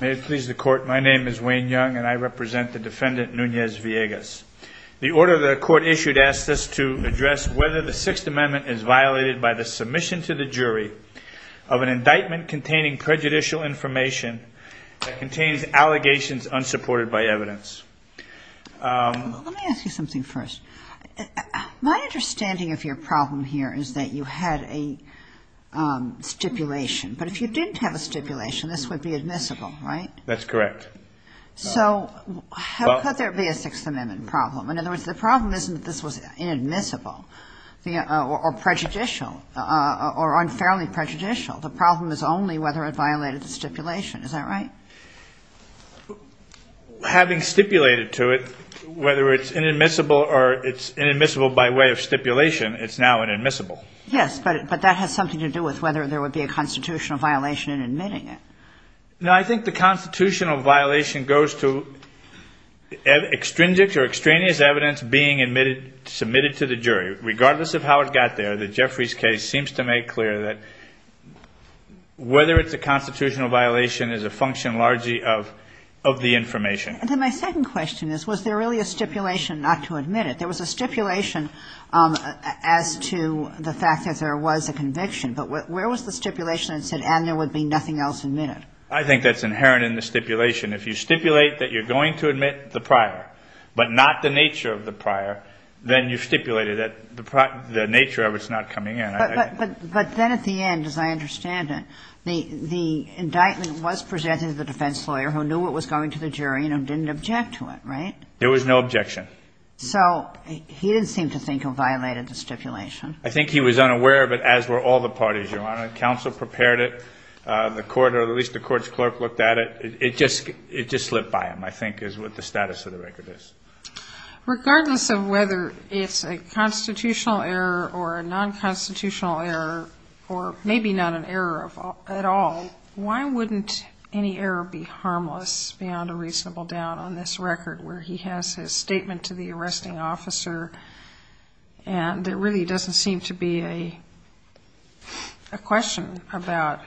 May it please the court, my name is Wayne Young and I represent the defendant Nunez-Villegas. The order the court issued asks us to address whether the Sixth Amendment is violated by the submission to the jury of an indictment containing prejudicial information that contains allegations unsupported by evidence. Let me ask you something first. My understanding of your problem here is that you had a stipulation, but if you didn't have a stipulation, this would be admissible, right? That's correct. So how could there be a Sixth Amendment problem? In other words, the problem isn't that this was inadmissible or prejudicial or unfairly prejudicial. The problem is only whether it violated the stipulation. Is that right? Having stipulated to it, whether it's inadmissible or it's inadmissible by way of stipulation, it's now inadmissible. Yes, but that has something to do with whether there would be a constitutional violation in admitting it. No, I think the constitutional violation goes to extrinsic or extraneous evidence being submitted to the jury. Regardless of how it got there, the Jeffries case seems to make clear that whether it's a constitutional violation is a function largely of the information. And then my second question is, was there really a stipulation not to admit it? There was a stipulation as to the fact that there was a conviction, but where was the stipulation that said, and there would be nothing else admitted? I think that's inherent in the stipulation. If you stipulate that you're going to admit the prior, but not the nature of the prior, then you've stipulated that the nature of it's not coming in. But then at the end, as I understand it, the indictment was presented to the defense lawyer who knew what was going to the jury and who didn't object to it, right? There was no objection. So he didn't seem to think it violated the stipulation. I think he was unaware of it, as were all the parties, Your Honor. Counsel prepared it. The court, or at least the court's clerk, looked at it. It just slipped by him, I think, is what the status of the record is. Regardless of whether it's a constitutional error or a non-constitutional error, or maybe not an error at all, why wouldn't any error be harmless beyond a reasonable doubt on this record where he has his statement to the arresting officer and there really doesn't seem to be a question about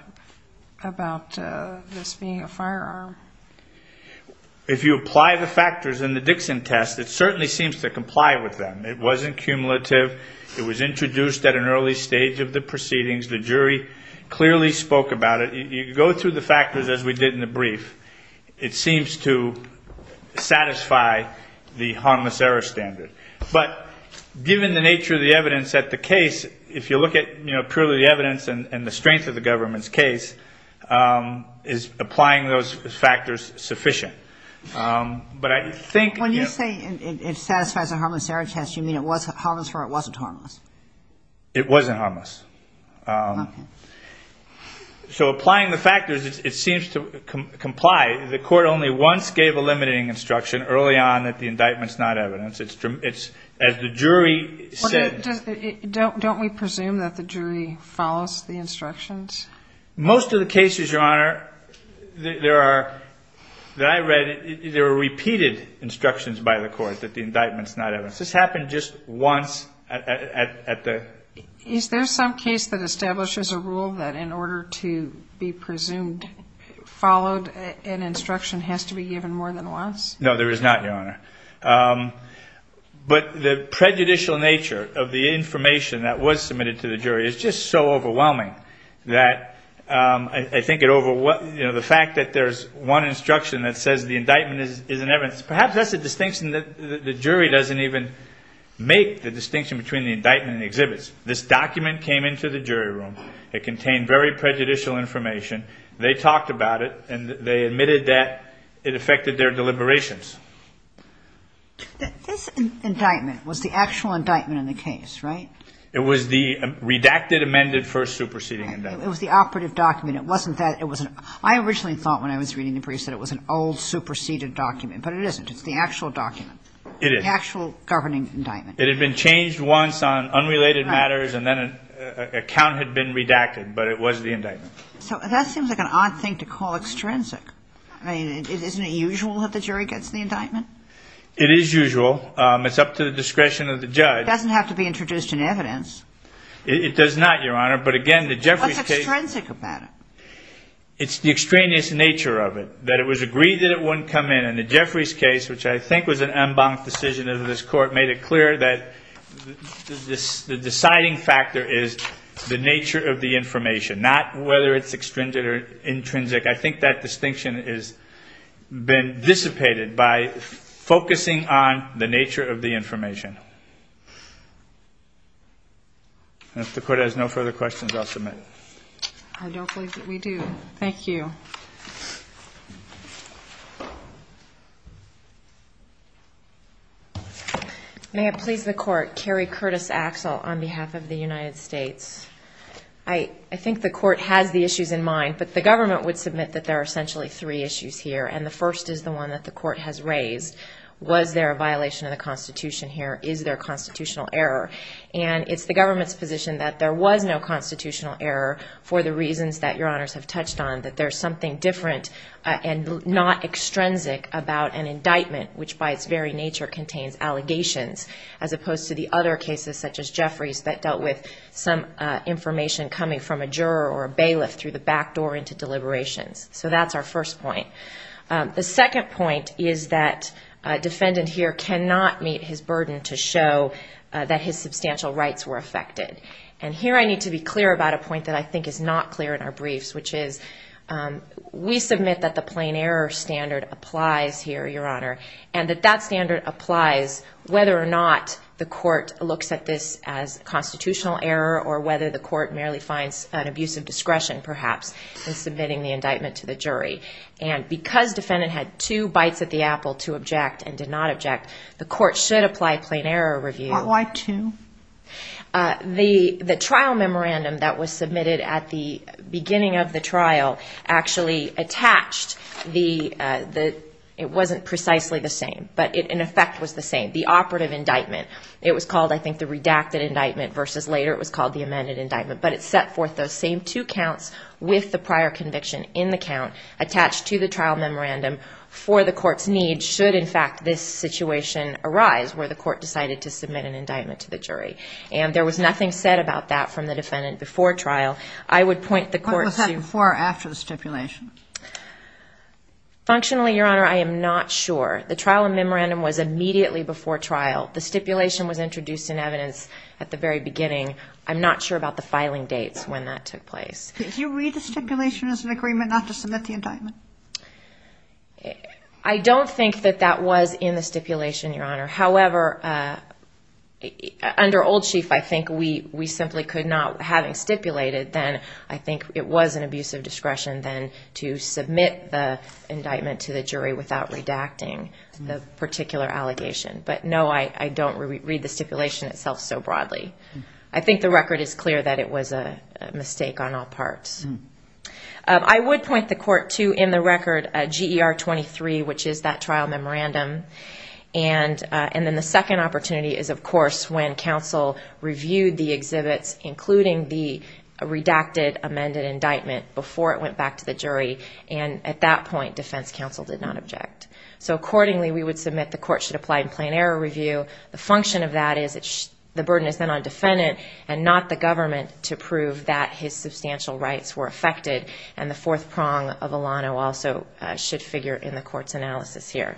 this being a firearm? If you apply the factors in the Dixon test, it certainly seems to comply with them. It wasn't cumulative. It was introduced at an early stage of the proceedings. The jury clearly spoke about it. You go through the factors as we did in the brief. It seems to satisfy the harmless error standard. But given the nature of the evidence at the case, if you look at purely the evidence and the strength of the evidence, I don't think there's factors sufficient. But I think... When you say it satisfies a harmless error test, you mean it was harmless or it wasn't harmless? It wasn't harmless. So applying the factors, it seems to comply. The court only once gave a limiting instruction early on that the indictment's not evidence. It's as the jury said. Don't we presume that the jury follows the instructions? Most of the cases, Your Honor, that I read, there were repeated instructions by the court that the indictment's not evidence. This happened just once at the... Is there some case that establishes a rule that in order to be presumed followed, an instruction has to be given more than once? No, there is not, Your Honor. But the prejudicial nature of the information that was submitted to the jury is just so overwhelming that I think it over... The fact that there's one instruction that says the indictment is an evidence, perhaps that's a distinction that the jury doesn't even make, the distinction between the indictment and the exhibits. This document came into the jury room. It contained very prejudicial information. They talked about it and they admitted that it affected their deliberations. This indictment was the actual indictment in the case, right? It was the redacted amended first superseding indictment. It was the operative document. It wasn't that... I originally thought when I was reading the briefs that it was an old superseded document, but it isn't. It's the actual document. It is. The actual governing indictment. It had been changed once on unrelated matters and then an account had been redacted, but it was the indictment. So that seems like an odd thing to call extrinsic. I mean, isn't it usual that the jury gets the indictment? It is usual. It's up to the discretion of the judge. Doesn't have to be introduced in evidence. It does not, Your Honor. But again, the Jeffries case... What's extrinsic about it? It's the extraneous nature of it. That it was agreed that it wouldn't come in. And the Jeffries case, which I think was an en banc decision of this court, made it clear that the deciding factor is the nature of the information, not whether it's extrinsic or intrinsic. I think that distinction has been dissipated by focusing on the nature of the information. And if the Court has no further questions, I'll submit. I don't believe that we do. Thank you. May it please the Court, Carrie Curtis Axel on behalf of the United States. I think the Court has the issues in mind, but the government would submit that there are essentially three issues here. And the first is the one that the Court has raised. Was there a violation of the Constitution here? Is there constitutional error? And it's the government's position that there was no constitutional error for the reasons that Your Honors have touched on. That there's something different and not extrinsic about an indictment, which by its very nature contains allegations, as opposed to the other cases such as Jeffries that dealt with some information coming from a juror or a bailiff through the back door into deliberations. So that's our first point. The second point is that a defendant here cannot meet his burden to show that his substantial rights were affected. And here I need to be clear about a point that I think is not clear in our briefs, which is we submit that the plain error standard applies here, Your Honor, and that that standard applies whether or not the Court looks at this as constitutional error or whether the Court merely finds an abuse of discretion, perhaps, in submitting the indictment to the jury. And because defendant had two bites at the apple to object and did not object, the Court should apply plain error review. Why two? The trial memorandum that was submitted at the beginning of the trial actually attached the, it wasn't precisely the same, but in effect was the same. The operative indictment, it was called, I think, the redacted indictment versus later it was called the amended indictment. Attached to the trial memorandum for the Court's need should, in fact, this situation arise where the Court decided to submit an indictment to the jury. And there was nothing said about that from the defendant before trial. I would point the Court to- What was that before or after the stipulation? Functionally, Your Honor, I am not sure. The trial memorandum was immediately before trial. The stipulation was introduced in evidence at the very beginning. I'm not sure about the filing dates when that took place. Did you read the stipulation as an agreement not to submit the indictment? I don't think that that was in the stipulation, Your Honor. However, under Old Chief, I think we simply could not, having stipulated, then I think it was an abuse of discretion then to submit the indictment to the jury without redacting the particular allegation. But no, I don't read the stipulation itself so broadly. I think the record is clear that it was a mistake on all parts. I would point the Court to, in the record, GER 23, which is that trial memorandum. And then the second opportunity is, of course, when counsel reviewed the exhibits, including the redacted amended indictment, before it went back to the jury. And at that point, defense counsel did not object. So accordingly, we would submit the Court should apply in plain error review. The function of that is the burden is then on defendant and not the government to prove that his substantial rights were affected. And the fourth prong of Alano also should figure in the Court's analysis here.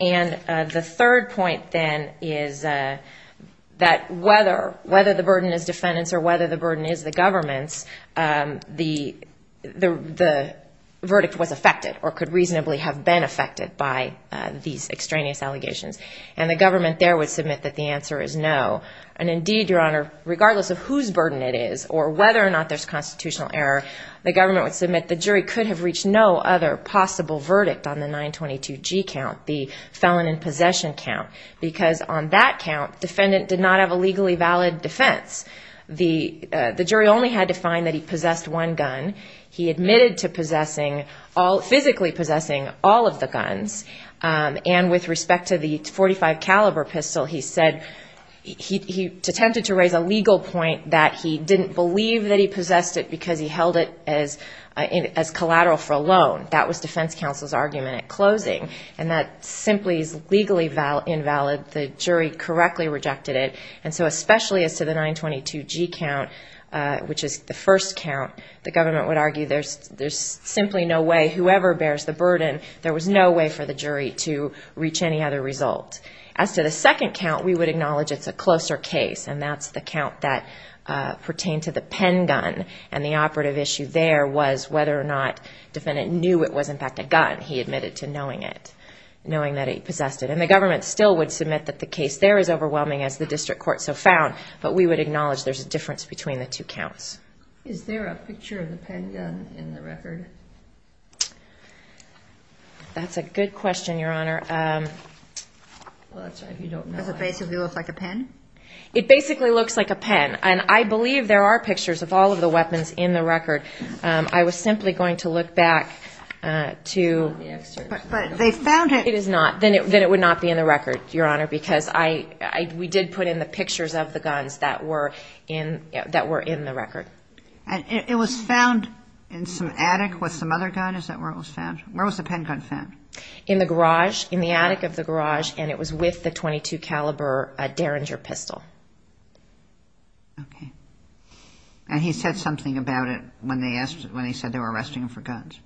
And the third point, then, is that whether the burden is defendant's or whether the burden is the government's, the verdict was affected or could reasonably have been affected by these extraneous allegations. And the government there would submit that the answer is no. And indeed, Your Honor, regardless of whose burden it is, or whether or not there's constitutional error, the government would submit the jury could have reached no other possible verdict on the 922G count, the felon in possession count. Because on that count, defendant did not have a legally valid defense. The jury only had to find that he possessed one gun. He admitted to physically possessing all of the guns. And with respect to the .45 caliber pistol, he said he attempted to raise a legal point that he didn't believe that he possessed it because he held it as collateral for a loan. That was defense counsel's argument at closing. And that simply is legally invalid. The jury correctly rejected it. And so especially as to the 922G count, which is the first count, the government would argue there's simply no way whoever bears the burden, there was no way for the jury to reach any other result. As to the second count, we would acknowledge it's a closer case. And that's the count that pertained to the pen gun. And the operative issue there was whether or not defendant knew it was, in fact, a gun. He admitted to knowing it, knowing that he possessed it. And the government still would submit that the case there is overwhelming as the district court so found. But we would acknowledge there's a difference between the two counts. Is there a picture of the pen gun in the record? That's a good question, Your Honor. Does it basically look like a pen? It basically looks like a pen. And I believe there are pictures of all of the weapons in the record. I was simply going to look back to the excerpt. But they found it. It is not. Then it would not be in the record, Your Honor, because we did put in the pictures of the guns that were in the record. And it was found in some attic with some other gun? Is that where it was found? Where was the pen gun found? In the garage, in the attic of the garage. And it was with the .22 caliber Derringer pistol. Okay. And he said something about it when they asked, when he said they were arresting him for guns.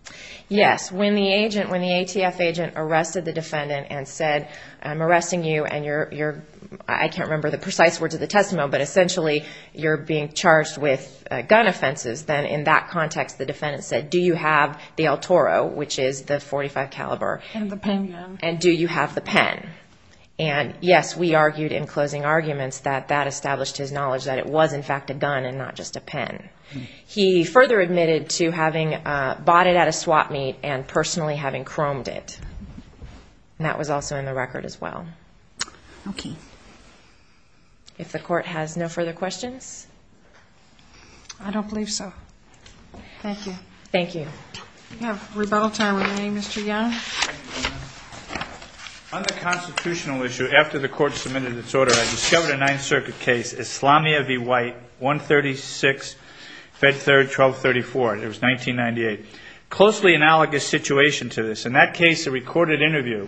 Yes. When the agent, when the ATF agent arrested the defendant and said, I'm arresting you and you're, I can't remember the precise words of the testimony, but essentially you're being charged with gun offenses. Then in that context, the defendant said, do you have the El Toro, which is the .45 caliber? And the pen gun. And do you have the pen? And yes, we argued in closing arguments that that established his knowledge that it was in fact a gun and not just a pen. He further admitted to having bought it at a swap meet and personally having chromed it. And that was also in the record as well. Okay. Okay. If the court has no further questions. I don't believe so. Thank you. Thank you. We have rebuttal time. What's your name, Mr. Young? On the constitutional issue, after the court submitted its order, I discovered a ninth circuit case, Islamia v. White, 136, fed third, 1234. It was 1998. Closely analogous situation to this. In that case, the recorded interview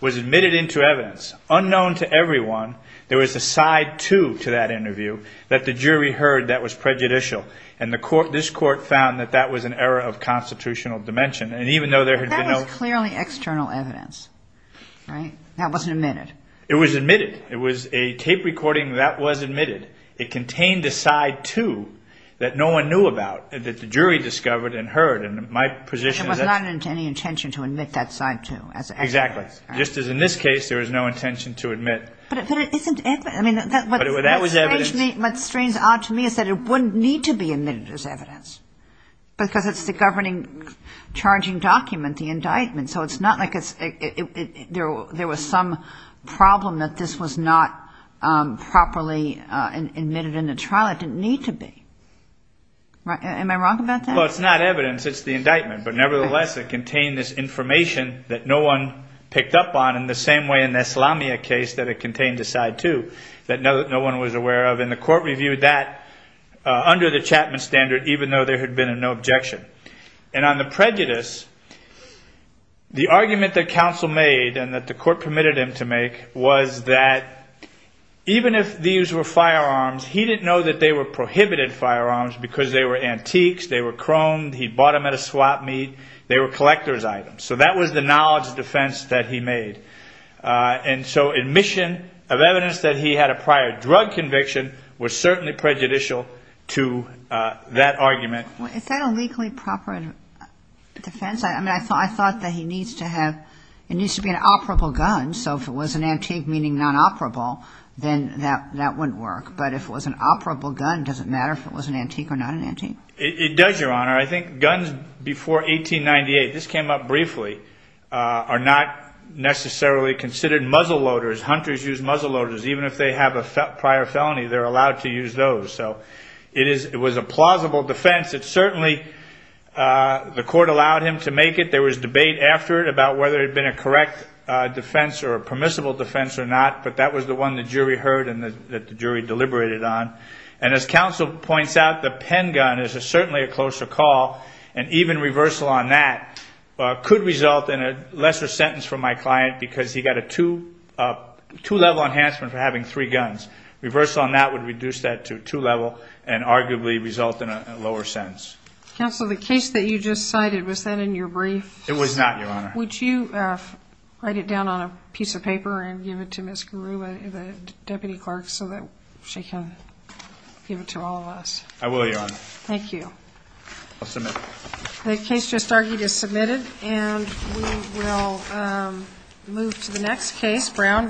was admitted into evidence, unknown to everyone. There was a side two to that interview that the jury heard that was prejudicial. And the court, this court found that that was an error of constitutional dimension. And even though there had been no- That was clearly external evidence, right? That wasn't admitted. It was admitted. It was a tape recording that was admitted. It contained a side two that no one knew about, that the jury discovered and heard. And my position- It was not any intention to admit that side two as- Exactly. Just as in this case, there was no intention to admit- But it isn't- I mean, that was evidence- What strains on to me is that it wouldn't need to be admitted as evidence. Because it's the governing charging document, the indictment. So it's not like it's- There was some problem that this was not properly admitted in the trial. It didn't need to be. Am I wrong about that? Well, it's not evidence. It's the indictment. But nevertheless, it contained this information that no one picked up on, in the same way in the Islamia case that it contained a side two that no one was aware of. And the court reviewed that under the Chapman standard, even though there had been no objection. And on the prejudice, the argument that counsel made, and that the court permitted him to make, was that even if these were firearms, he didn't know that they were prohibited firearms because they were antiques. They were chromed. He bought them at a swap meet. They were collector's items. So that was the knowledge defense that he made. And so admission of evidence that he had a prior drug conviction was certainly prejudicial to that argument. Is that a legally proper defense? I mean, I thought that he needs to have- It needs to be an operable gun. So if it was an antique, meaning non-operable, then that wouldn't work. But if it was an operable gun, does it matter if it was an antique or not an antique? It does, Your Honor. I think guns before 1898, this came up briefly, are not necessarily considered muzzleloaders. Hunters use muzzleloaders. Even if they have a prior felony, they're allowed to use those. So it was a plausible defense. It certainly- the court allowed him to make it. There was debate after it about whether it had been a correct defense or a permissible defense or not. But that was the one the jury heard and that the jury deliberated on. And as counsel points out, the pen gun is certainly a closer call. And even reversal on that could result in a lesser sentence for my client because he got a two-level enhancement for having three guns. Reversal on that would reduce that to two-level and arguably result in a lower sentence. Counsel, the case that you just cited, was that in your brief? It was not, Your Honor. Would you write it down on a piece of paper and give it to Ms. Garuba, the deputy clerk, so that she can give it to all of us? I will, Your Honor. Thank you. I'll submit. The case just argued is submitted and we will move to the next case.